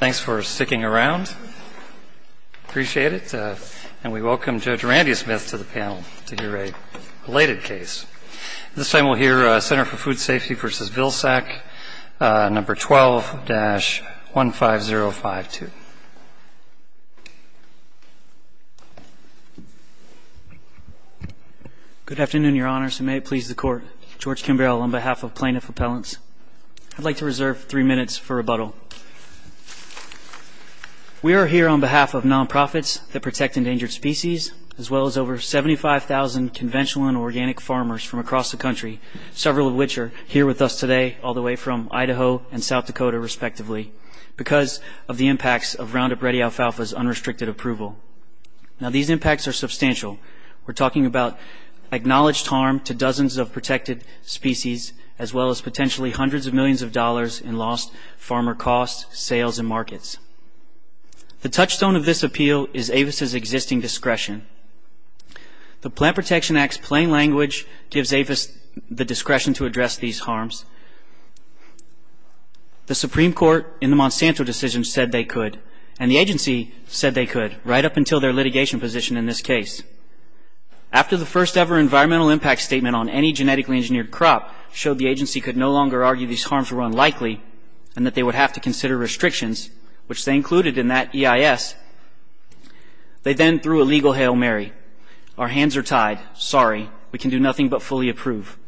Thanks for sticking around. Appreciate it. And we welcome Judge Randy Smith to the panel to hear a related case. This time we'll hear Center for Food Safety v. Vilsack, No. 12-15052. Good afternoon, Your Honors, and may it please the Court. George Kimball on behalf of Plaintiff Appellants. I'd like to reserve three minutes for rebuttal. We are here on behalf of nonprofits that protect endangered species, as well as over 75,000 conventional and organic farmers from across the country, several of which are here with us today, all the way from Idaho and South Dakota, respectively, because of the impacts of Roundup Ready alfalfa's unrestricted approval. Now, these impacts are substantial. We're talking about acknowledged harm to dozens of protected species, as well as potentially hundreds of millions of dollars in lost farmer costs, sales, and markets. The touchstone of this appeal is AFIS's existing discretion. The Plant Protection Act's plain language gives AFIS the discretion to address these harms. The Supreme Court in the Monsanto decision said they could, and the agency said they could right up until their litigation position in this case. After the first-ever environmental impact statement on any genetically engineered crop showed the agency could no longer argue these harms were unlikely, and that they would have to consider restrictions, which they included in that EIS, they then threw a legal Hail Mary. Our hands are tied. Sorry. We can do nothing but fully approve.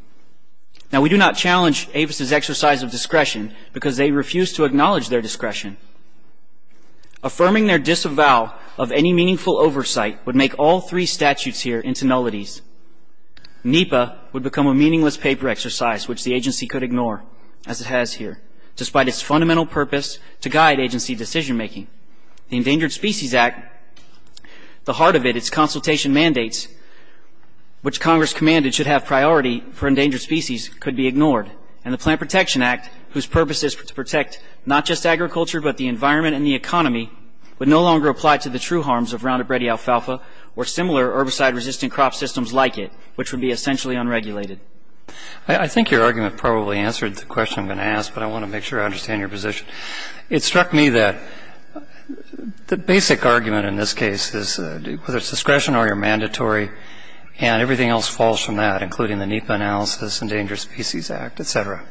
Now, we do not challenge AFIS's exercise of discretion, because they refuse to acknowledge their discretion. Affirming their disavow of any meaningful oversight would make all three statutes here into nullities. NEPA would become a meaningless paper exercise, which the agency could ignore, as it has here, despite its fundamental purpose to guide agency decision-making. The Endangered Species Act, the heart of it, its consultation mandates, which Congress commanded should have priority for endangered species, could be ignored. And the Plant Protection Act, whose purpose is to protect not just agriculture, but the environment and the economy, would no longer apply to the true harms of Roundup Ready alfalfa or similar herbicide-resistant crop systems like it, which would be essentially unregulated. I think your argument probably answered the question I'm going to ask, but I want to make sure I understand your position. It struck me that the basic argument in this case is whether it's discretion or you're mandatory, and everything else falls from that, including the NEPA analysis, Endangered Species Act, et cetera.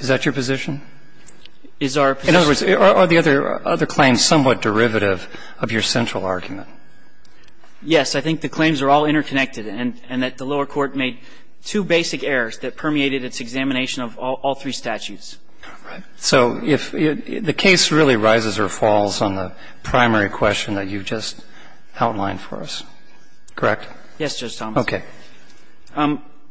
Is that your position? In other words, are the other claims somewhat derivative of your central argument? Yes. I think the claims are all interconnected and that the lower court made two basic errors that permeated its examination of all three statutes. So if the case really rises or falls on the primary question that you've just outlined for us, correct? Yes, Judge Thomas. Okay.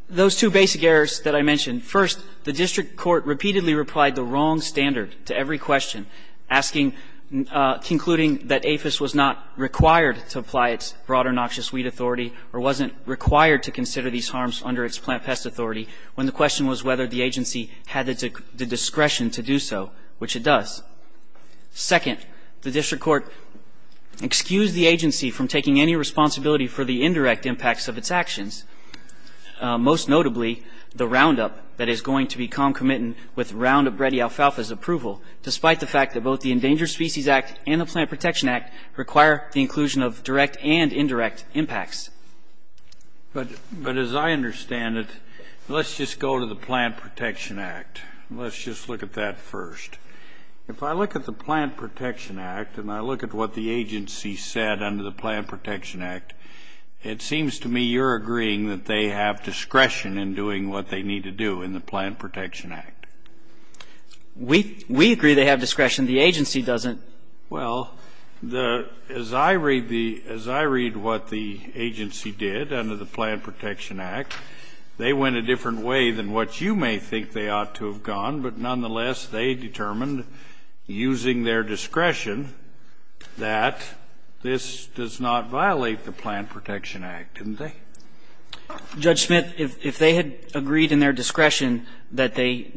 Those two basic errors that I mentioned. First, the district court repeatedly replied the wrong standard to every question, asking, concluding that APHIS was not required to apply its broader noxious weed authority or wasn't required to consider these harms under its plant pest authority, when the question was whether the agency had the discretion to do so, which it does. Second, the district court excused the agency from taking any responsibility for the indirect impacts of its actions, most notably the roundup that is going to be concomitant with Roundup Ready alfalfa's approval, despite the fact that both the Endangered Species Act and the Plant Protection Act require the inclusion of direct and indirect impacts. But as I understand it, let's just go to the Plant Protection Act. Let's just look at that first. If I look at the Plant Protection Act and I look at what the agency said under the Plant Protection Act, it seems to me you're agreeing that they have discretion in doing what they need to do in the Plant Protection Act. We agree they have discretion. The agency doesn't. Well, as I read the as I read what the agency did under the Plant Protection Act, they went a different way than what you may think they ought to have gone, but nonetheless they determined, using their discretion, that this does not violate the Plant Protection Act, didn't they? Judge Smith, if they had agreed in their discretion that they,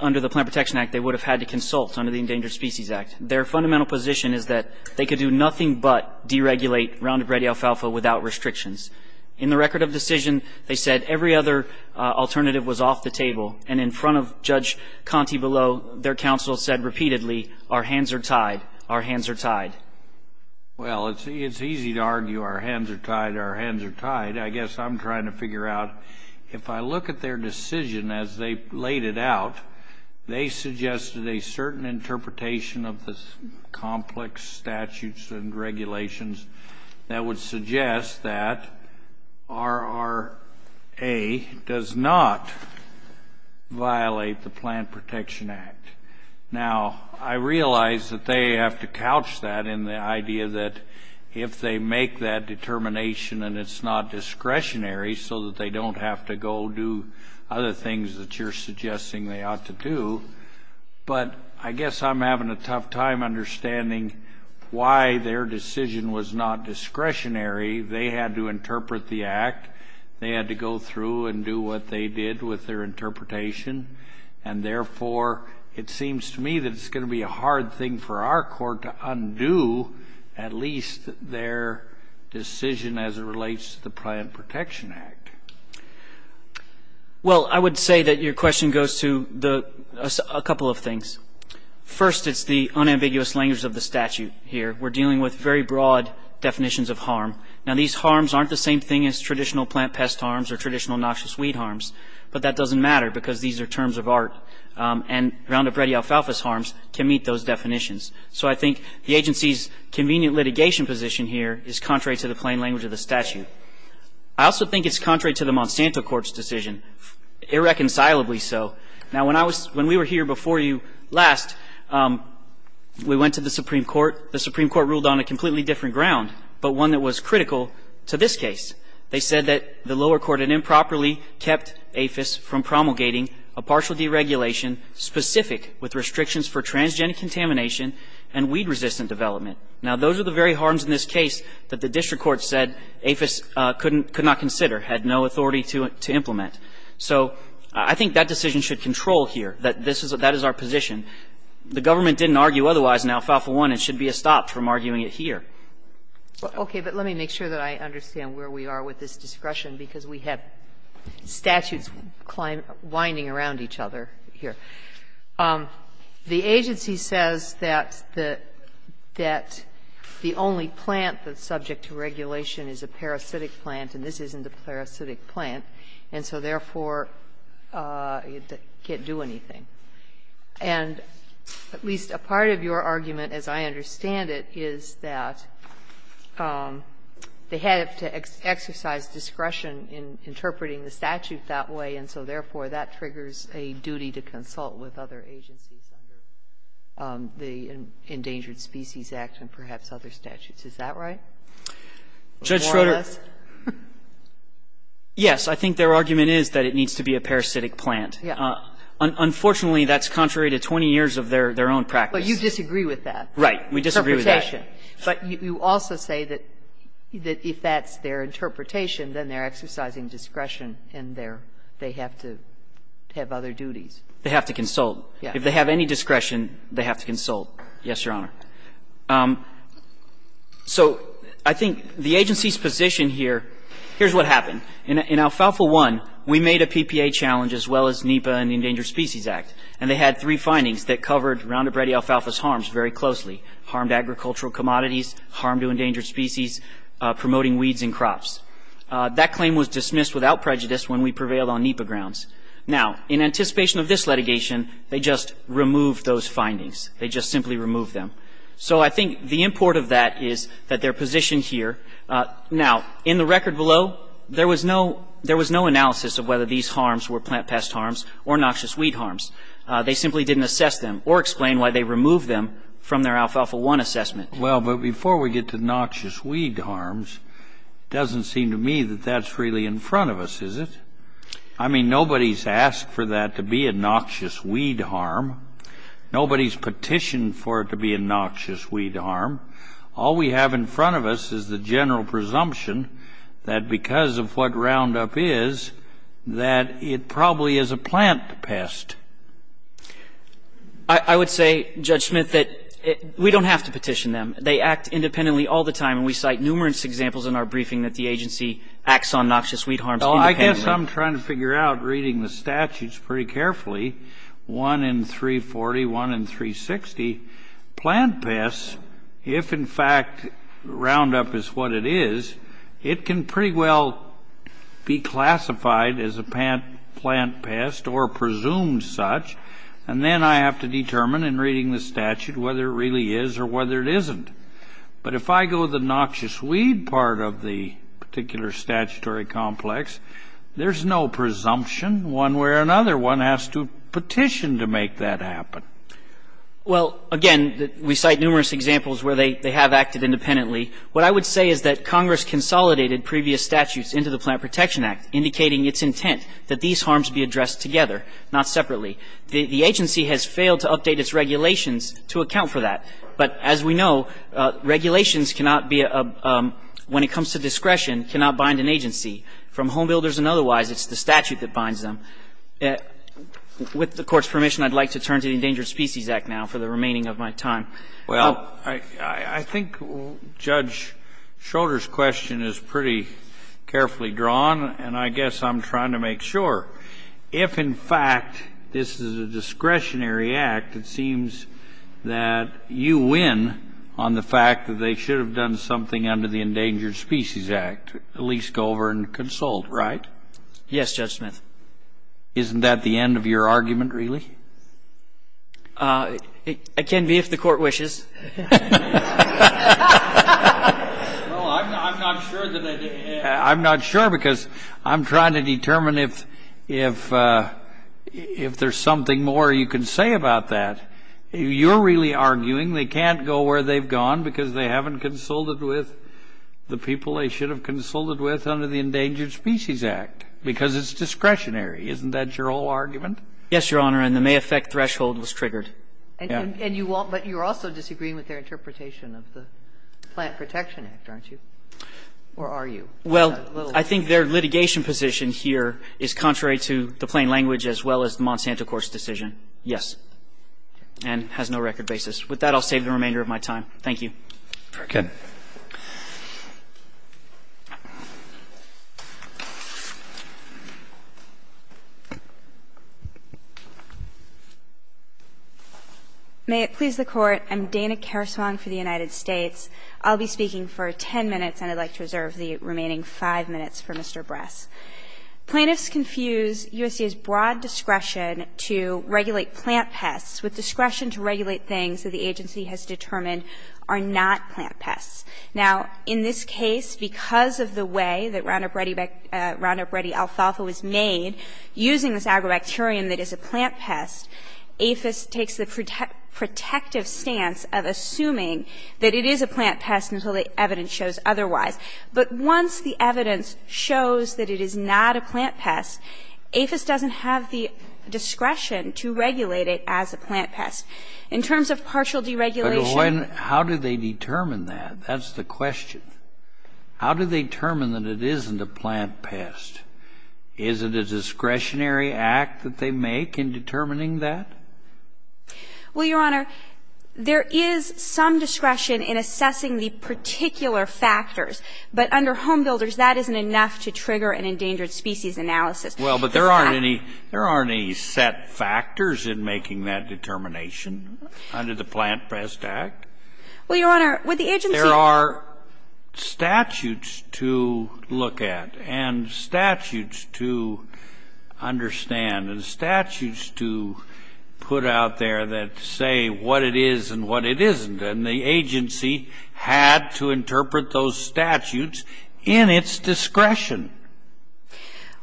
under the Plant Protection Act, they would have had to consult under the Endangered Species Act. Their fundamental position is that they could do nothing but deregulate Roundup Ready alfalfa without restrictions. In the record of decision, they said every other alternative was off the table, and in front of Judge Conte below, their counsel said repeatedly, our hands are tied, our hands are tied. Well, it's easy to argue our hands are tied, our hands are tied. I guess I'm trying to figure out, if I look at their decision as they laid it out, they suggested a certain interpretation of the complex statutes and regulations that would violate the Plant Protection Act. Now, I realize that they have to couch that in the idea that if they make that determination and it's not discretionary so that they don't have to go do other things that you're suggesting they ought to do, but I guess I'm having a tough time understanding why their decision was not discretionary. They had to interpret the act. They had to go through and do what they did with their interpretation. And therefore, it seems to me that it's going to be a hard thing for our court to undo at least their decision as it relates to the Plant Protection Act. Well, I would say that your question goes to a couple of things. First, it's the unambiguous language of the statute here. We're dealing with very broad definitions of harm. Now, these harms aren't the same thing as traditional plant pest harms or traditional noxious weed harms, but that doesn't matter because these are terms of art. And Roundup Ready alfalfa's harms can meet those definitions. So I think the agency's convenient litigation position here is contrary to the plain language of the statute. I also think it's contrary to the Monsanto Court's decision, irreconcilably so. Now, when we were here before you last, we went to the Supreme Court. The Supreme Court ruled on a completely different ground, but one that was critical to this case. They said that the lower court had improperly kept APHIS from promulgating a partial deregulation specific with restrictions for transgenic contamination and weed-resistant development. Now, those are the very harms in this case that the district court said APHIS could not consider, had no authority to implement. So I think that decision should control here, that that is our position. The government didn't argue otherwise in Alfalfa I. It should be stopped from arguing it here. Okay. But let me make sure that I understand where we are with this discretion, because we have statutes winding around each other here. The agency says that the only plant that's subject to regulation is a parasitic plant, and this isn't a parasitic plant, and so, therefore, it can't do anything. And at least a part of your argument, as I understand it, is that they have to exercise discretion in interpreting the statute that way, and so, therefore, that triggers a duty to consult with other agencies under the Endangered Species Act and perhaps other statutes. Is that right? More or less? Yes. I think their argument is that it needs to be a parasitic plant. Unfortunately, that's contrary to 20 years of their own practice. But you disagree with that. Right. We disagree with that. Interpretation. But you also say that if that's their interpretation, then they're exercising discretion and they have to have other duties. They have to consult. Yes. If they have any discretion, they have to consult. Yes, Your Honor. So I think the agency's position here, here's what happened. In alfalfa 1, we made a PPA challenge as well as NEPA and the Endangered Species Act, and they had three findings that covered Roundup Ready alfalfa's harms very closely, harmed agricultural commodities, harm to endangered species, promoting weeds and crops. That claim was dismissed without prejudice when we prevailed on NEPA grounds. Now, in anticipation of this litigation, they just removed those findings. They just simply removed them. So I think the import of that is that their position here, now, in the record below, there was no analysis of whether these harms were plant pest harms or noxious weed harms. They simply didn't assess them or explain why they removed them from their alfalfa 1 assessment. Well, but before we get to noxious weed harms, it doesn't seem to me that that's really in front of us, is it? I mean, nobody's asked for that to be a noxious weed harm. Nobody's petitioned for it to be a noxious weed harm. All we have in front of us is the general presumption that because of what Roundup is, that it probably is a plant pest. I would say, Judge Smith, that we don't have to petition them. They act independently all the time, and we cite numerous examples in our briefing that the agency acts on noxious weed harms independently. Well, I guess I'm trying to figure out, reading the statutes pretty carefully, 1 in 340, 1 in 360, plant pests, if in fact Roundup is what it is, it can pretty well be classified as a plant pest or presumed such, and then I have to determine in reading the statute whether it really is or whether it isn't. But if I go to the noxious weed part of the particular statutory complex, there's no presumption one way or another. One has to petition to make that happen. Well, again, we cite numerous examples where they have acted independently. What I would say is that Congress consolidated previous statutes into the Plant Protection Act, indicating its intent that these harms be addressed together, not separately. The agency has failed to update its regulations to account for that. But as we know, regulations cannot be a – when it comes to discretion, cannot bind an agency. From Home Builders and otherwise, it's the statute that binds them. With the Court's permission, I'd like to turn to the Endangered Species Act now for the remaining of my time. Well, I think Judge Schroeder's question is pretty carefully drawn, and I guess I'm trying to make sure. If, in fact, this is a discretionary act, it seems that you win on the fact that they should have done something under the Endangered Species Act. At least go over and consult, right? Yes, Judge Smith. Isn't that the end of your argument, really? It can be if the Court wishes. Well, I'm not sure that they – I'm not sure because I'm trying to determine if there's something more you can say about that. You're really arguing they can't go where they've gone because they haven't consulted with the people they should have consulted with under the Endangered Species Act because it's discretionary. Isn't that your whole argument? Yes, Your Honor, and the may affect threshold was triggered. And you won't – but you're also disagreeing with their interpretation of the Plant Protection Act, aren't you? Or are you? Well, I think their litigation position here is contrary to the plain language as well as the Monsanto Court's decision, yes, and has no record basis. With that, I'll save the remainder of my time. Thank you. Very good. May it please the Court. I'm Dana Kerswong for the United States. I'll be speaking for 10 minutes, and I'd like to reserve the remaining 5 minutes for Mr. Bress. Plaintiffs confuse USDA's broad discretion to regulate plant pests with discretion to regulate things that the agency has determined are not plant pests. Now, in this case, because of the way that Roundup Ready alfalfa was made, using this agrobacterium that is a plant pest, APHIS takes the protective stance of assuming that it is a plant pest until the evidence shows otherwise. But once the evidence shows that it is not a plant pest, APHIS doesn't have the discretion. In terms of partial deregulation. But how do they determine that? That's the question. How do they determine that it isn't a plant pest? Is it a discretionary act that they make in determining that? Well, Your Honor, there is some discretion in assessing the particular factors. But under Home Builders, that isn't enough to trigger an endangered species analysis. Well, but there aren't any set factors in making that determination under the Plant Pest Act. Well, Your Honor, with the agency. There are statutes to look at and statutes to understand and statutes to put out there that say what it is and what it isn't. And the agency had to interpret those statutes in its discretion.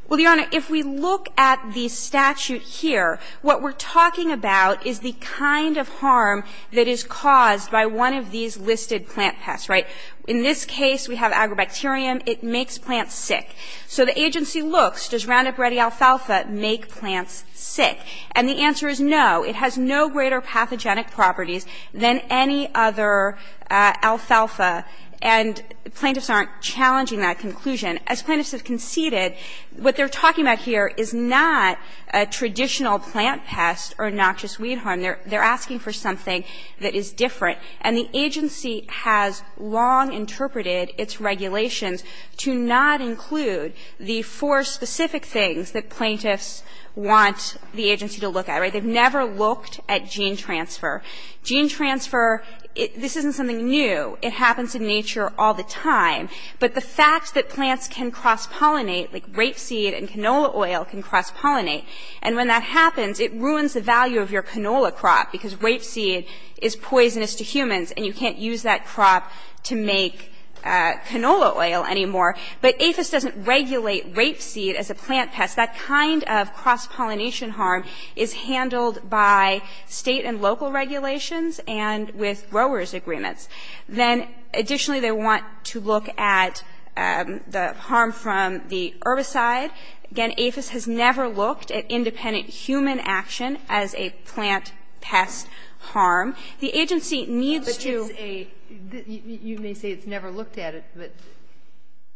Well, Your Honor, if we look at the statute here, what we're talking about is the kind of harm that is caused by one of these listed plant pests, right? In this case, we have agrobacterium. It makes plants sick. So the agency looks, does Roundup Ready alfalfa make plants sick? And the answer is no. It has no greater pathogenic properties than any other alfalfa. And plaintiffs aren't challenging that conclusion. As plaintiffs have conceded, what they're talking about here is not a traditional plant pest or noxious weed harm. They're asking for something that is different. And the agency has long interpreted its regulations to not include the four specific things that plaintiffs want the agency to look at, right? They've never looked at gene transfer. Gene transfer, this isn't something new. It happens in nature all the time. But the fact that plants can cross-pollinate, like rapeseed and canola oil can cross- pollinate, and when that happens, it ruins the value of your canola crop, because rapeseed is poisonous to humans and you can't use that crop to make canola oil anymore. But APHIS doesn't regulate rapeseed as a plant pest. That kind of cross-pollination harm is handled by State and local regulations and with growers' agreements. Then, additionally, they want to look at the harm from the herbicide. Again, APHIS has never looked at independent human action as a plant pest harm. The agency needs to do a — But it's a — you may say it's never looked at, but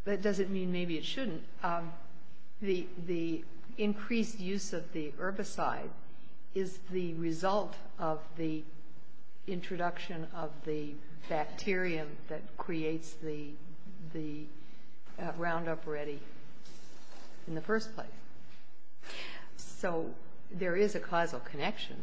that doesn't mean maybe it shouldn't. The increased use of the herbicide is the result of the introduction of the bacterium that creates the Roundup Ready in the first place. So there is a causal connection.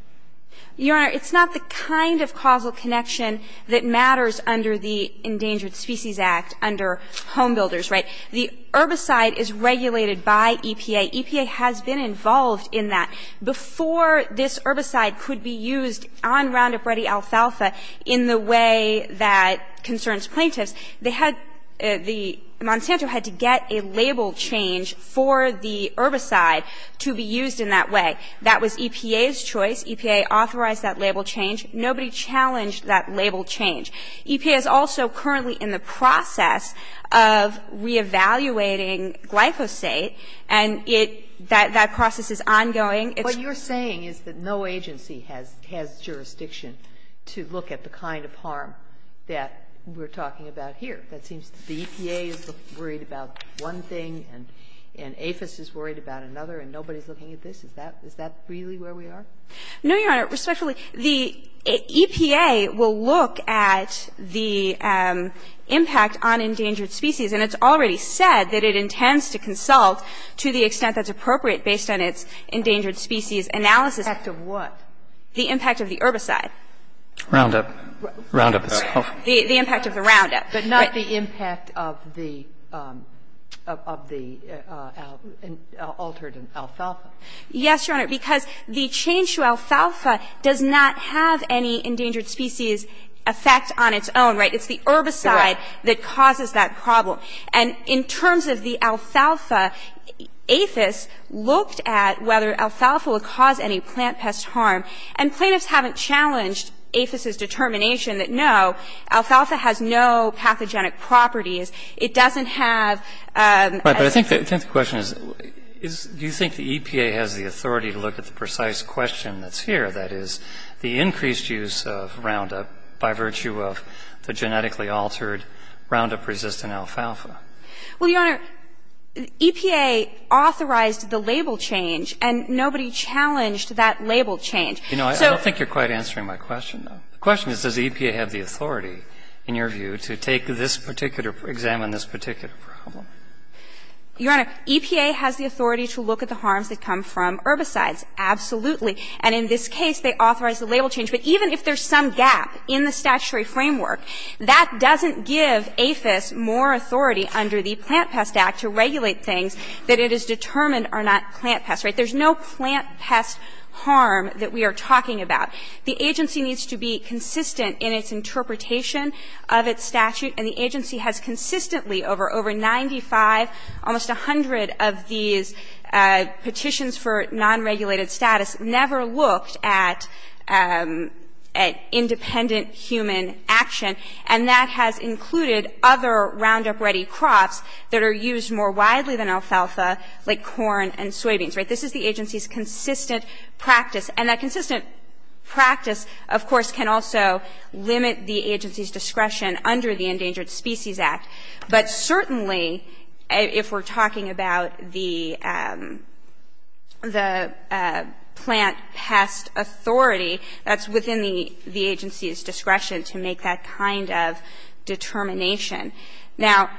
Your Honor, it's not the kind of causal connection that matters under the Endangered Species Act, under Home Builders, right? The herbicide is regulated by EPA. EPA has been involved in that. Before this herbicide could be used on Roundup Ready alfalfa in the way that concerns plaintiffs, they had — the — Monsanto had to get a label change for the herbicide to be used in that way. That was EPA's choice. EPA authorized that label change. Nobody challenged that label change. EPA is also currently in the process of reevaluating glyphosate, and it — that process is ongoing. It's — What you're saying is that no agency has jurisdiction to look at the kind of harm that we're talking about here. It seems the EPA is worried about one thing and APHIS is worried about another and nobody is looking at this. Is that really where we are? No, Your Honor. Respectfully, the EPA will look at the impact on endangered species, and it's already said that it intends to consult to the extent that's appropriate based on its endangered species analysis. Impact of what? The impact of the herbicide. Roundup. Roundup. The impact of the Roundup. But not the impact of the — of the altered alfalfa. Yes, Your Honor. Because the change to alfalfa does not have any endangered species effect on its own. Right? It's the herbicide that causes that problem. And in terms of the alfalfa, APHIS looked at whether alfalfa would cause any plant pest harm. And plaintiffs haven't challenged APHIS's determination that no, alfalfa has no pathogenic properties. It doesn't have — Right. But I think the question is, do you think the EPA has the authority to look at the precise question that's here, that is, the increased use of Roundup by virtue of the genetically altered Roundup-resistant alfalfa? Well, Your Honor, EPA authorized the label change, and nobody challenged that label change. You know, I don't think you're quite answering my question, though. The question is, does the EPA have the authority, in your view, to take this particular question or examine this particular problem? Your Honor, EPA has the authority to look at the harms that come from herbicides, absolutely. And in this case, they authorized the label change. But even if there's some gap in the statutory framework, that doesn't give APHIS more authority under the Plant Pest Act to regulate things that it has determined are not plant pests. Right? There's no plant pest harm that we are talking about. The agency needs to be consistent in its interpretation of its statute, and the agency has consistently, over 95, almost 100 of these petitions for non-regulated status, never looked at independent human action. And that has included other Roundup-ready crops that are used more widely than alfalfa, like corn and soybeans. Right? This is the agency's consistent practice. And that consistent practice, of course, can also limit the agency's discretion under the Endangered Species Act. But certainly, if we're talking about the plant pest authority, that's within the agency's discretion to make that kind of determination. Now,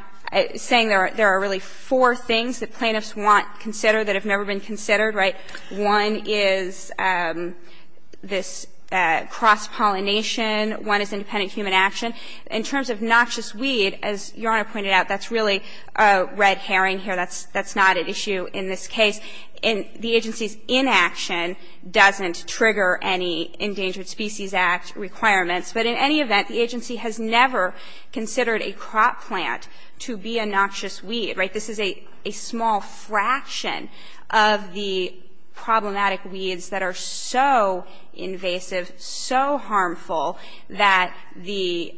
saying there are really four things that plaintiffs want considered that have never been considered. Right? One is this cross-pollination. One is independent human action. In terms of noxious weed, as Your Honor pointed out, that's really a red herring here. That's not an issue in this case. The agency's inaction doesn't trigger any Endangered Species Act requirements. But in any event, the agency has never considered a crop plant to be a noxious weed. Right? This is a small fraction of the problematic weeds that are so invasive, so harmful, that the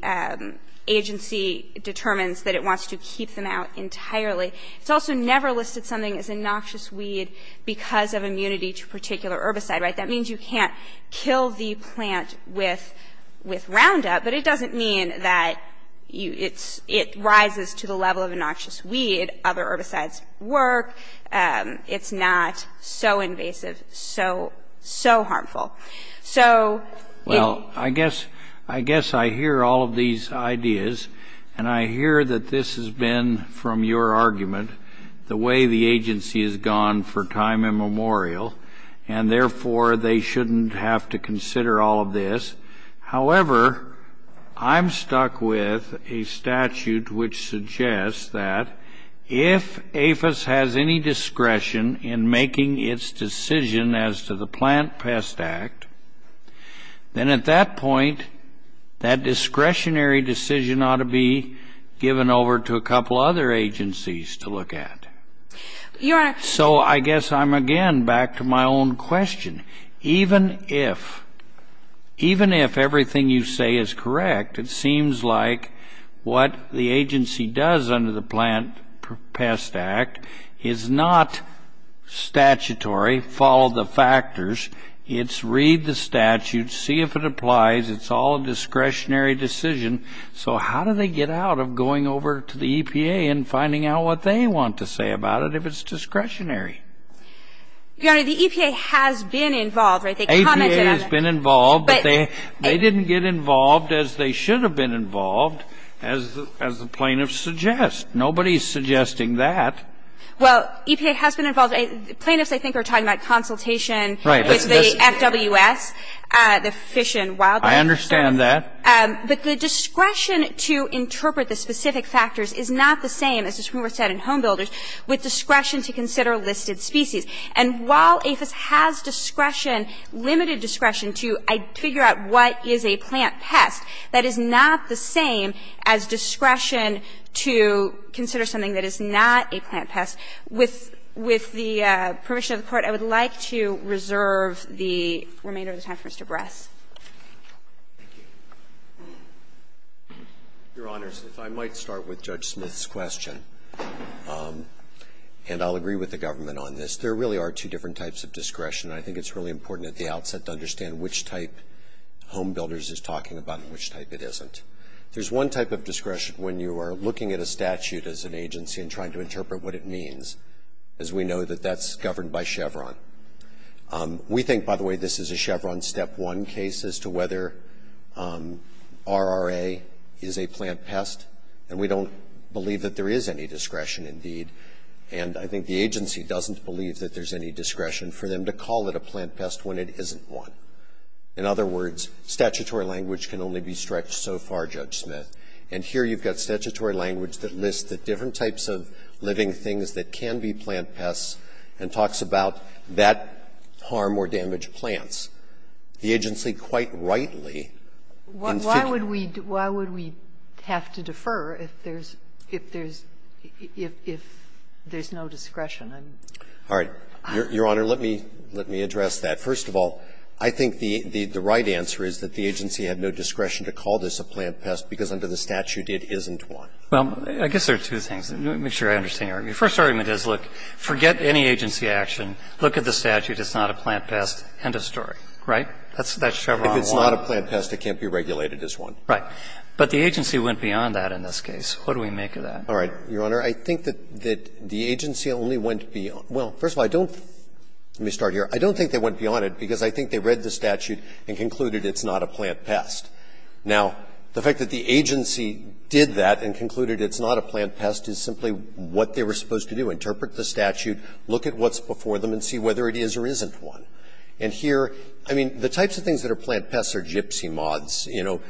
agency determines that it wants to keep them out entirely. It's also never listed something as a noxious weed because of immunity to a particular herbicide. Right? That means you can't kill the plant with Roundup. But it doesn't mean that it rises to the level of a noxious weed. Other herbicides work. It's not so invasive, so harmful. Well, I guess I hear all of these ideas. And I hear that this has been, from your argument, the way the agency has gone for time immemorial. And therefore, they shouldn't have to consider all of this. However, I'm stuck with a statute which suggests that if APHIS has any discretion in making its decision as to the Plant Pest Act, then at that point, that discretionary decision ought to be given over to a couple other agencies to look at. So I guess I'm, again, back to my own question. Even if, even if everything you say is correct, it seems like what the agency does under the Plant Pest Act is not statutory, follow the factors. It's read the statute, see if it applies. It's all a discretionary decision. So how do they get out of going over to the EPA and finding out what they want to say about it if it's discretionary? Your Honor, the EPA has been involved, right? They commented on it. The EPA has been involved. But they didn't get involved as they should have been involved, as the plaintiffs suggest. Nobody is suggesting that. Well, EPA has been involved. Plaintiffs, I think, are talking about consultation with the FWS, the Fish and Wildlife Service. I understand that. But the discretion to interpret the specific factors is not the same, as the Supreme Court said in Homebuilders, with discretion to consider listed species. And while APHIS has discretion, limited discretion, to figure out what is a plant pest, that is not the same as discretion to consider something that is not a plant pest. With the permission of the Court, I would like to reserve the remainder of the time for Mr. Bress. Thank you. Your Honors, if I might start with Judge Smith's question. And I'll agree with the government on this. There really are two different types of discretion. And I think it's really important at the outset to understand which type Homebuilders is talking about and which type it isn't. There's one type of discretion when you are looking at a statute as an agency and trying to interpret what it means, as we know that that's governed by Chevron. We think, by the way, this is a Chevron Step 1 case as to whether RRA is a plant And we don't believe that there is any discretion, indeed. And I think the agency doesn't believe that there's any discretion for them to call it a plant pest when it isn't one. In other words, statutory language can only be stretched so far, Judge Smith. And here you've got statutory language that lists the different types of living things that can be plant pests and talks about that harm or damage plants. The agency quite rightly in figuring Why would we have to defer if there's no discretion? All right. Your Honor, let me address that. First of all, I think the right answer is that the agency had no discretion to call this a plant pest because under the statute it isn't one. Well, I guess there are two things. Let me make sure I understand your argument. The first argument is, look, forget any agency action. Look at the statute. It's not a plant pest. End of story. Right? That's Chevron 1. If it's not a plant pest, it can't be regulated as one. But the agency went beyond that in this case. What do we make of that? All right. Your Honor, I think that the agency only went beyond – well, first of all, I don't – let me start here. I don't think they went beyond it because I think they read the statute and concluded it's not a plant pest. Now, the fact that the agency did that and concluded it's not a plant pest is simply what they were supposed to do, interpret the statute, look at what's before them and see whether it is or isn't one. And here, I mean, the types of things that are plant pests are gypsy moths, you know,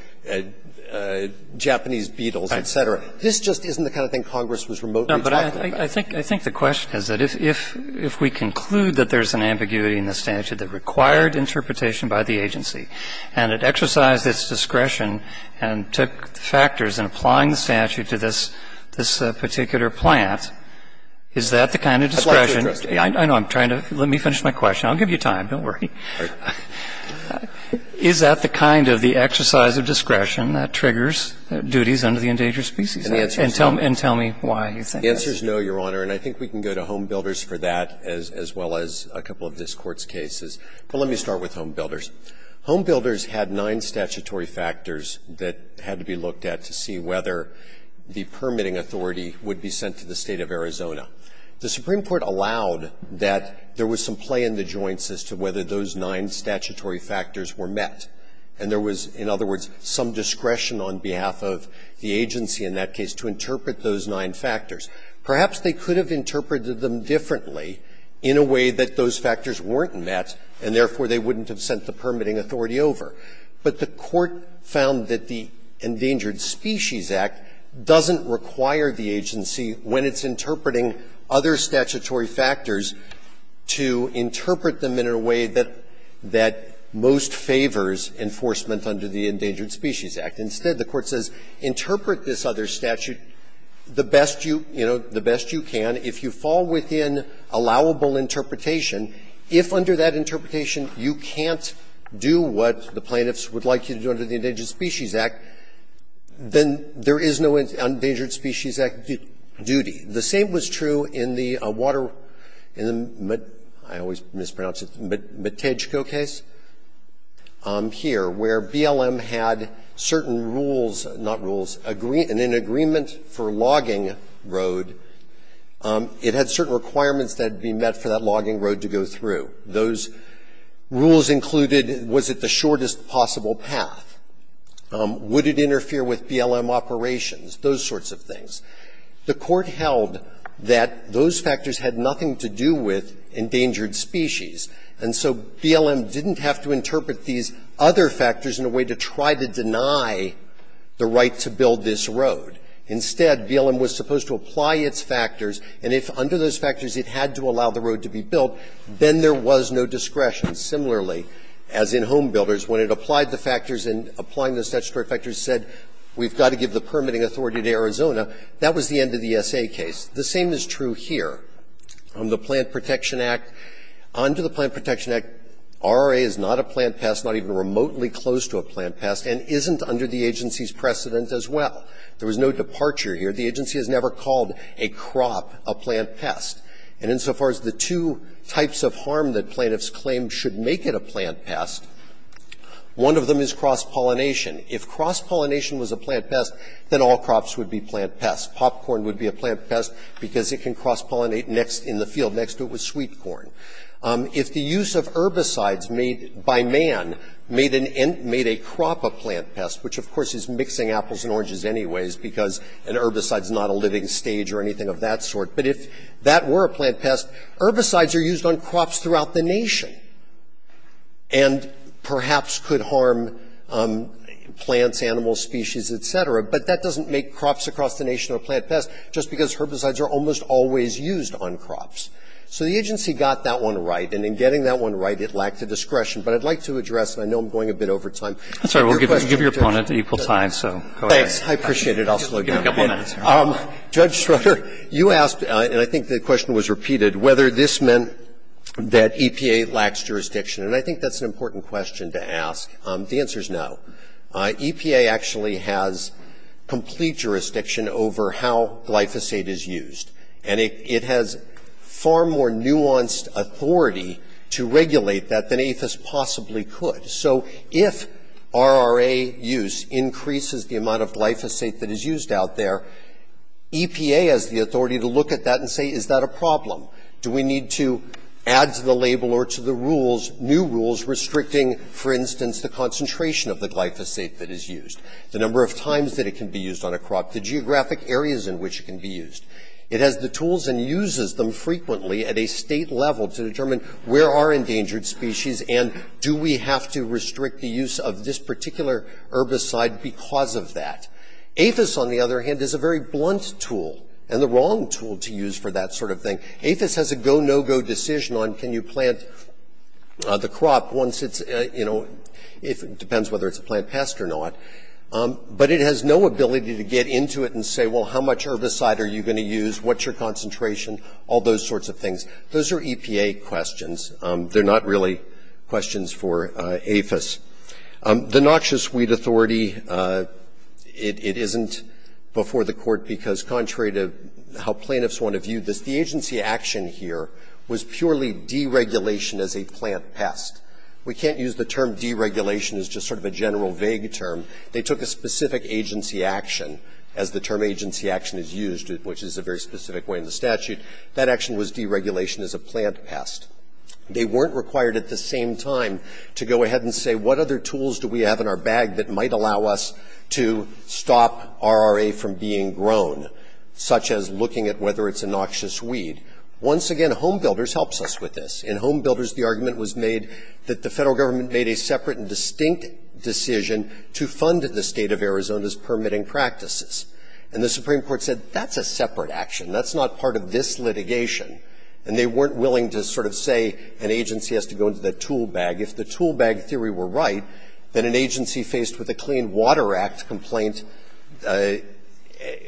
Japanese beetles, et cetera. This just isn't the kind of thing Congress was remotely talking about. No, but I think the question is that if we conclude that there's an ambiguity in the statute that required interpretation by the agency and it exercised its discretion and took factors in applying the statute to this particular plant, is that the kind of discretion? I'd like to address that. I know. I'm trying to – let me finish my question. I'll give you time. Don't worry. Is that the kind of the exercise of discretion that triggers duties under the endangered species act? And tell me why you think that is. The answer is no, Your Honor, and I think we can go to Home Builders for that as well as a couple of this Court's cases. But let me start with Home Builders. Home Builders had nine statutory factors that had to be looked at to see whether the permitting authority would be sent to the State of Arizona. The Supreme Court allowed that there was some play in the joints as to whether those nine statutory factors were met. And there was, in other words, some discretion on behalf of the agency in that case to interpret those nine factors. Perhaps they could have interpreted them differently in a way that those factors weren't met and, therefore, they wouldn't have sent the permitting authority over. But the Court found that the Endangered Species Act doesn't require the agency when it's interpreting other statutory factors to interpret them in a way that most favors enforcement under the Endangered Species Act. Instead, the Court says interpret this other statute the best you, you know, the best you can. If you fall within allowable interpretation, if under that interpretation you can't do what the plaintiffs would like you to do under the Endangered Species Act, then there is no Endangered Species Act duty. The same was true in the water ---- I always mispronounce it, the Matejko case here, where BLM had certain rules, not rules, an agreement for logging road. It had certain requirements that would be met for that logging road to go through. Those rules included, was it the shortest possible path? Would it interfere with BLM operations? Those sorts of things. The Court held that those factors had nothing to do with endangered species. And so BLM didn't have to interpret these other factors in a way to try to deny the right to build this road. Instead, BLM was supposed to apply its factors, and if under those factors it had to allow the road to be built, then there was no discretion. Similarly, as in homebuilders, when it applied the factors and applying the statutory factors said, we've got to give the permitting authority to Arizona, that was the end of the SA case. The same is true here. The Plant Protection Act. Under the Plant Protection Act, RRA is not a plant pest, not even remotely close to a plant pest, and isn't under the agency's precedent as well. There was no departure here. The agency has never called a crop a plant pest. And insofar as the two types of harm that plaintiffs claim should make it a plant pest, one of them is cross-pollination. If cross-pollination was a plant pest, then all crops would be plant pests. Popcorn would be a plant pest because it can cross-pollinate next in the field next to it with sweet corn. If the use of herbicides made by man made a crop a plant pest, which of course is mixing apples and oranges anyways because an herbicide is not a living stage or anything of that sort, but if that were a plant pest, herbicides are used on crops throughout the nation and perhaps could harm plants, animals, species, et cetera. But that doesn't make crops across the nation a plant pest just because herbicides are almost always used on crops. So the agency got that one right. And in getting that one right, it lacked the discretion. But I'd like to address, and I know I'm going a bit over time. Roberts, I'm sorry. We'll give your opponent equal time, so go ahead. Thanks. I appreciate it. I'll slow down. Give him a couple of minutes. Judge Schroeder, you asked, and I think the question was repeated, whether this meant that EPA lacks jurisdiction. And I think that's an important question to ask. The answer is no. EPA actually has complete jurisdiction over how glyphosate is used. And it has far more nuanced authority to regulate that than APHIS possibly could. So if RRA use increases the amount of glyphosate that is used out there, EPA has the authority to look at that and say, is that a problem? Do we need to add to the label or to the rules new rules restricting, for instance, the concentration of the glyphosate that is used, the number of times that it can be used on a crop, the geographic areas in which it can be used? It has the tools and uses them frequently at a State level to determine where are endangered species and do we have to restrict the use of this particular herbicide because of that. APHIS, on the other hand, is a very blunt tool and the wrong tool to use for that sort of thing. APHIS has a go-no-go decision on can you plant the crop once it's, you know, it depends whether it's a plant pest or not. But it has no ability to get into it and say, well, how much herbicide are you going to use, what's your concentration, all those sorts of things. Those are EPA questions. They're not really questions for APHIS. The noxious weed authority, it isn't before the Court because contrary to how plaintiffs want to view this, the agency action here was purely deregulation as a plant pest. We can't use the term deregulation as just sort of a general vague term. They took a specific agency action, as the term agency action is used, which is a very specific way in the statute. That action was deregulation as a plant pest. They weren't required at the same time to go ahead and say what other tools do we have in our bag that might allow us to stop RRA from being grown, such as looking at whether it's a noxious weed. Once again, Home Builders helps us with this. In Home Builders, the argument was made that the Federal Government made a separate and distinct decision to fund the State of Arizona's permitting practices. And the Supreme Court said that's a separate action. That's not part of this litigation. And they weren't willing to sort of say an agency has to go into the tool bag. If the tool bag theory were right, then an agency faced with a Clean Water Act complaint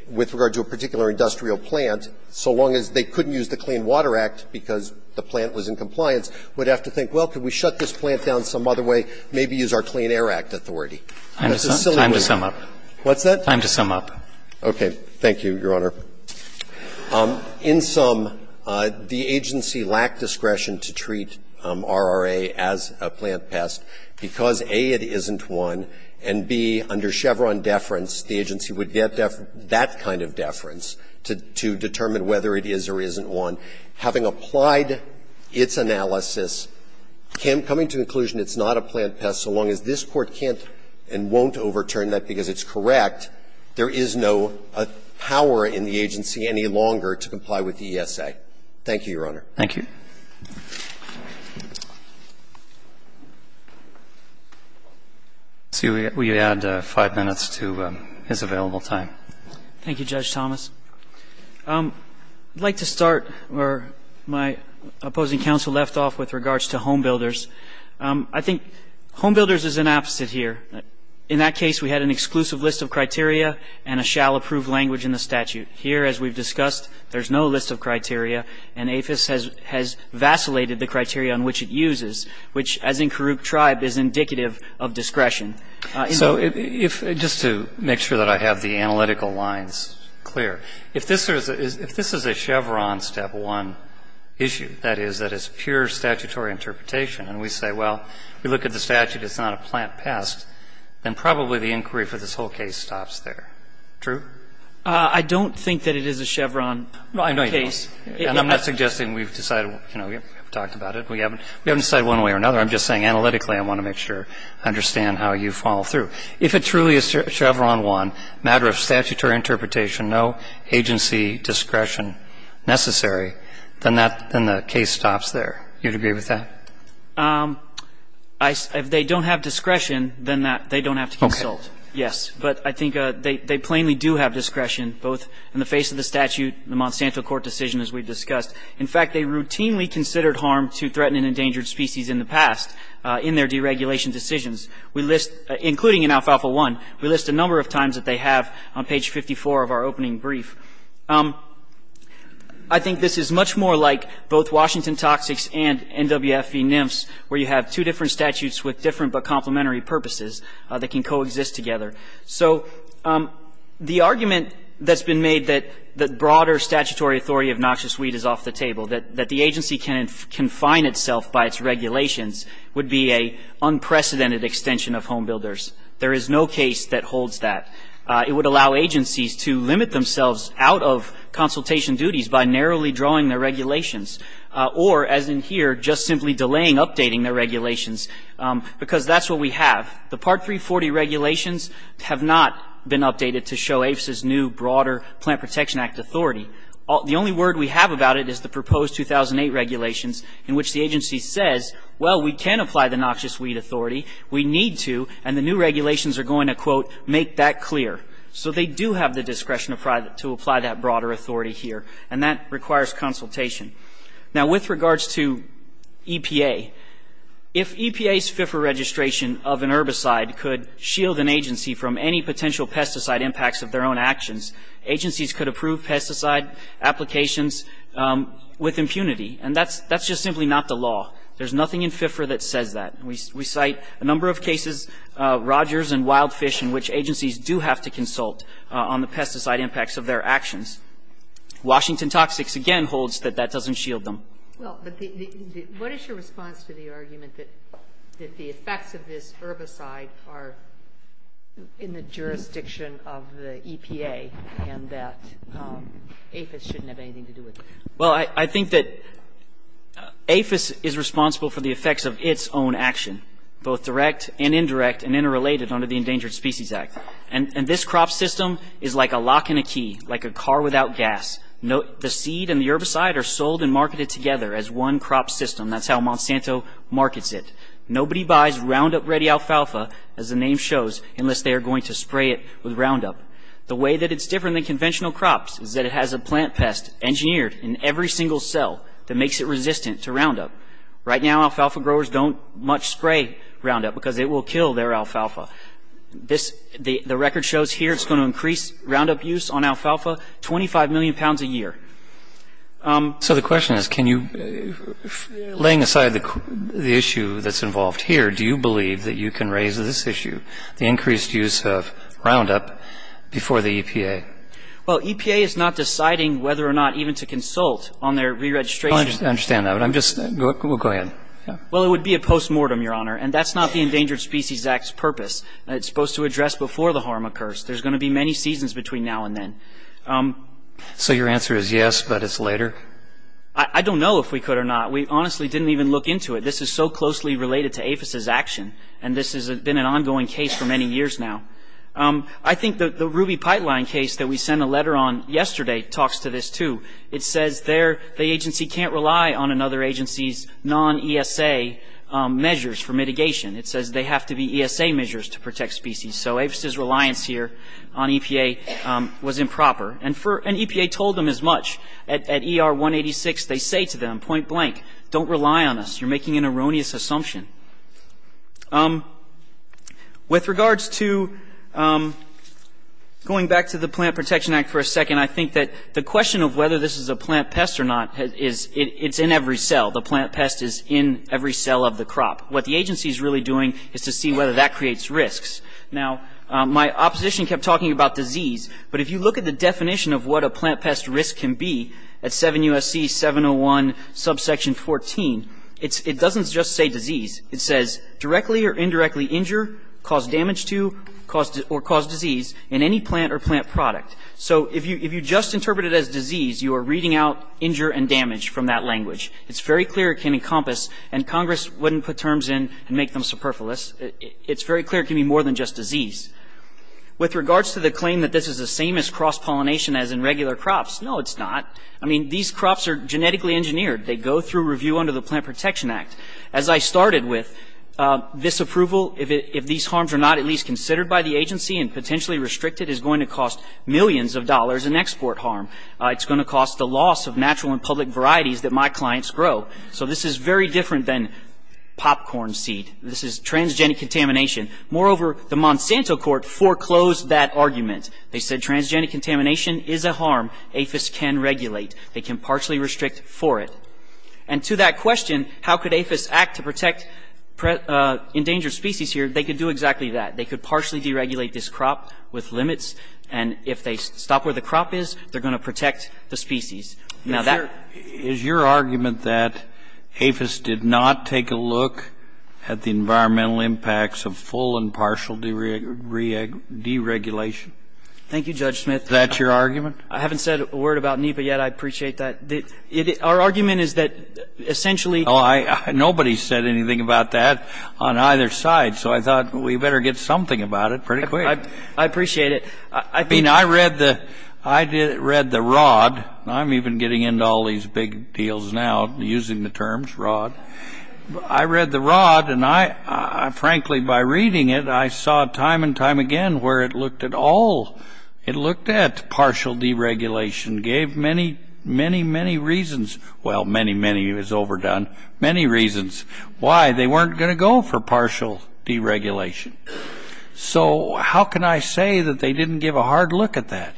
with regard to a particular industrial plant, so long as they couldn't use the Clean Water Act because the plant was in compliance, would have to think, well, could we shut this plant down some other way, maybe use our Clean Air Act authority. What's that? Time to sum up. Okay. Thank you, Your Honor. In sum, the agency lacked discretion to treat RRA as a plant pest because, A, it isn't one, and, B, under Chevron deference, the agency would get that kind of deference to determine whether it is or isn't one. Having applied its analysis, coming to the conclusion it's not a plant pest, so long as this Court can't and won't overturn that because it's correct, there is no power in the agency any longer to comply with the ESA. Thank you, Your Honor. Thank you. Thank you. We add five minutes to his available time. Thank you, Judge Thomas. I'd like to start where my opposing counsel left off with regards to homebuilders. I think homebuilders is an opposite here. In that case, we had an exclusive list of criteria and a shall-approved language in the statute. Here, as we've discussed, there's no list of criteria, and APHIS has vacillated the criteria on which it uses, which, as in Karuk Tribe, is indicative of discretion. So if you just to make sure that I have the analytical lines clear, if this is a Chevron step one issue, that is, that is pure statutory interpretation, and we say, well, we look at the statute, it's not a plant pest, then probably the inquiry for this whole case stops there. True? I don't think that it is a Chevron case. I'm not suggesting we've decided, you know, we haven't talked about it, we haven't decided one way or another. I'm just saying analytically I want to make sure I understand how you follow through. If it truly is Chevron one, matter of statutory interpretation, no agency discretion necessary, then that the case stops there. You'd agree with that? If they don't have discretion, then they don't have to consult. Okay. Yes, but I think they plainly do have discretion, both in the face of the statute and the Monsanto court decision, as we've discussed. In fact, they routinely considered harm to threatened and endangered species in the past in their deregulation decisions. We list, including in alfalfa one, we list a number of times that they have on page 54 of our opening brief. I think this is much more like both Washington Toxics and NWFE-NFTS, where you have two different statutes with different but complementary purposes that can coexist together. So the argument that's been made that broader statutory authority of noxious weed is off the table, that the agency can confine itself by its regulations, would be an unprecedented extension of home builders. There is no case that holds that. It would allow agencies to limit themselves out of consultation duties by narrowly drawing their regulations, or, as in here, just simply delaying updating their regulations, because that's what we have. The Part 340 regulations have not been updated to show APHSA's new, broader Plant Protection Act authority. The only word we have about it is the proposed 2008 regulations, in which the agency says, well, we can apply the noxious weed authority. We need to. And the new regulations are going to, quote, make that clear. So they do have the discretion to apply that broader authority here. And that requires consultation. Now, with regards to EPA, if EPA's FIFRA registration of an herbicide could shield an agency from any potential pesticide impacts of their own actions, agencies could approve pesticide applications with impunity. And that's just simply not the law. There's nothing in FIFRA that says that. We cite a number of cases, Rogers and Wild Fish, in which agencies do have to consult on the pesticide impacts of their actions. Washington Toxics, again, holds that that doesn't shield them. Well, but what is your response to the argument that the effects of this herbicide are in the jurisdiction of the EPA and that APHSA shouldn't have anything to do with it? Well, I think that APHSA is responsible for the effects of its own action, both direct and indirect and interrelated under the Endangered Species Act. And this crop system is like a lock and a key, like a car without gas. The seed and the herbicide are sold and marketed together as one crop system. That's how Monsanto markets it. Nobody buys Roundup-ready alfalfa, as the name shows, unless they are going to spray it with Roundup. The way that it's different than conventional crops is that it has a plant pest engineered in every single cell that makes it resistant to Roundup. Right now, alfalfa growers don't much spray Roundup because it will kill their alfalfa. The record shows here it's going to increase Roundup use on alfalfa 25 million pounds a year. So the question is, can you, laying aside the issue that's involved here, do you believe that you can raise this issue, the increased use of Roundup, before the EPA? Well, EPA is not deciding whether or not even to consult on their re-registration. I understand that, but I'm just going to go ahead. Well, it would be a post-mortem, Your Honor, and that's not the Endangered Species Act's purpose. It's supposed to address before the harm occurs. There's going to be many seasons between now and then. So your answer is yes, but it's later? I don't know if we could or not. We honestly didn't even look into it. This is so closely related to APHIS's action, and this has been an ongoing case for many years now. I think the ruby pipeline case that we sent a letter on yesterday talks to this, too. It says the agency can't rely on another agency's non-ESA measures for mitigation. It says they have to be ESA measures to protect species. So APHIS's reliance here on EPA was improper. And EPA told them as much. At ER 186, they say to them, point blank, don't rely on us. You're making an erroneous assumption. With regards to going back to the Plant Protection Act for a second, I think that the question of whether this is a plant pest or not is it's in every cell. The plant pest is in every cell of the crop. What the agency is really doing is to see whether that creates risks. Now, my opposition kept talking about disease. But if you look at the definition of what a plant pest risk can be at 7 U.S.C. 701, subsection 14, it doesn't just say disease. It says directly or indirectly injure, cause damage to, or cause disease in any plant or plant product. So if you just interpret it as disease, you are reading out injure and damage from that language. It's very clear it can encompass, and Congress wouldn't put terms in and make them superfluous. It's very clear it can be more than just disease. With regards to the claim that this is the same as cross-pollination as in regular crops, no, it's not. I mean, these crops are genetically engineered. They go through review under the Plant Protection Act. As I started with, this approval, if these harms are not at least considered by the agency and potentially restricted, is going to cost millions of dollars in export harm. It's going to cost the loss of natural and public varieties that my clients grow. So this is very different than popcorn seed. This is transgenic contamination. Moreover, the Monsanto court foreclosed that argument. They said transgenic contamination is a harm APHIS can regulate. They can partially restrict for it. And to that question, how could APHIS act to protect endangered species here, they could do exactly that. They could partially deregulate this crop with limits. And if they stop where the crop is, they're going to protect the species. Now, that ---- Is your argument that APHIS did not take a look at the environmental impacts of full and partial deregulation? Thank you, Judge Smith. Is that your argument? I haven't said a word about NEPA yet. I appreciate that. Our argument is that essentially ---- Oh, I ---- nobody said anything about that on either side. So I thought we better get something about it pretty quick. I appreciate it. I read the ROD, and I'm even getting into all these big deals now using the terms ROD. I read the ROD, and I frankly by reading it, I saw time and time again where it looked at all. It looked at partial deregulation, gave many, many, many reasons. Well, many, many is overdone. Many reasons why they weren't going to go for partial deregulation. So how can I say that they didn't give a hard look at that?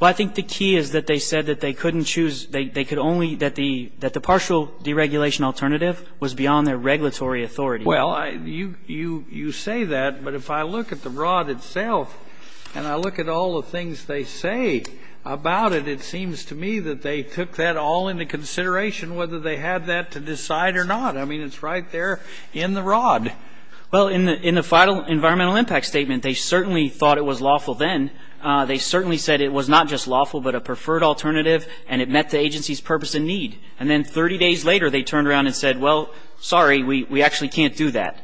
Well, I think the key is that they said that they couldn't choose ---- they could only ---- that the partial deregulation alternative was beyond their regulatory authority. Well, you say that, but if I look at the ROD itself and I look at all the things they say about it, it seems to me that they took that all into consideration whether they had that to decide or not. I mean, it's right there in the ROD. Why? Well, in the final environmental impact statement, they certainly thought it was lawful then. They certainly said it was not just lawful but a preferred alternative, and it met the agency's purpose and need. And then 30 days later, they turned around and said, well, sorry, we actually can't do that.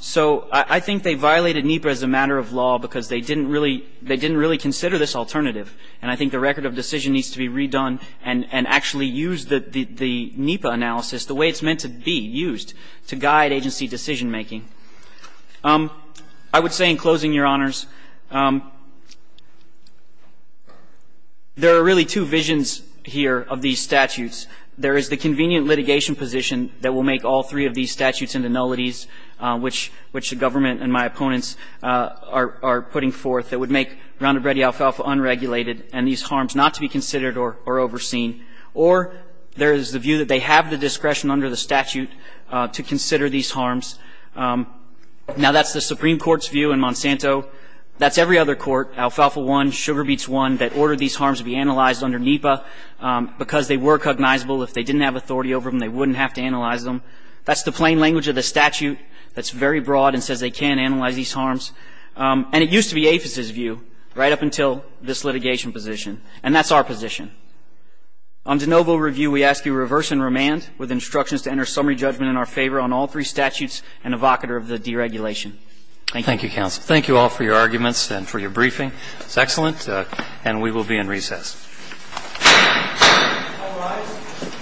So I think they violated NEPA as a matter of law because they didn't really consider this alternative, and I think the record of decision needs to be redone and actually use the NEPA analysis, the way it's meant to be used, to guide agency decision-making. I would say in closing, Your Honors, there are really two visions here of these statutes. There is the convenient litigation position that will make all three of these statutes into nullities, which the government and my opponents are putting forth, that would make Ronda Brede Alfalfa unregulated and these harms not to be considered or overseen. Or there is the view that they have the discretion under the statute to consider these harms. Now, that's the Supreme Court's view in Monsanto. That's every other court, Alfalfa 1, Sugar Beets 1, that ordered these harms to be analyzed under NEPA because they were cognizable. If they didn't have authority over them, they wouldn't have to analyze them. That's the plain language of the statute that's very broad and says they can't analyze these harms. And it used to be APHIS's view right up until this litigation position, and that's our position. On de novo review, we ask you reverse and remand with instructions to enter summary judgment in our favor on all three statutes and evocator of the deregulation. Thank you. Thank you, counsel. Thank you all for your arguments and for your briefing. That's excellent. And we will be in recess. All rise.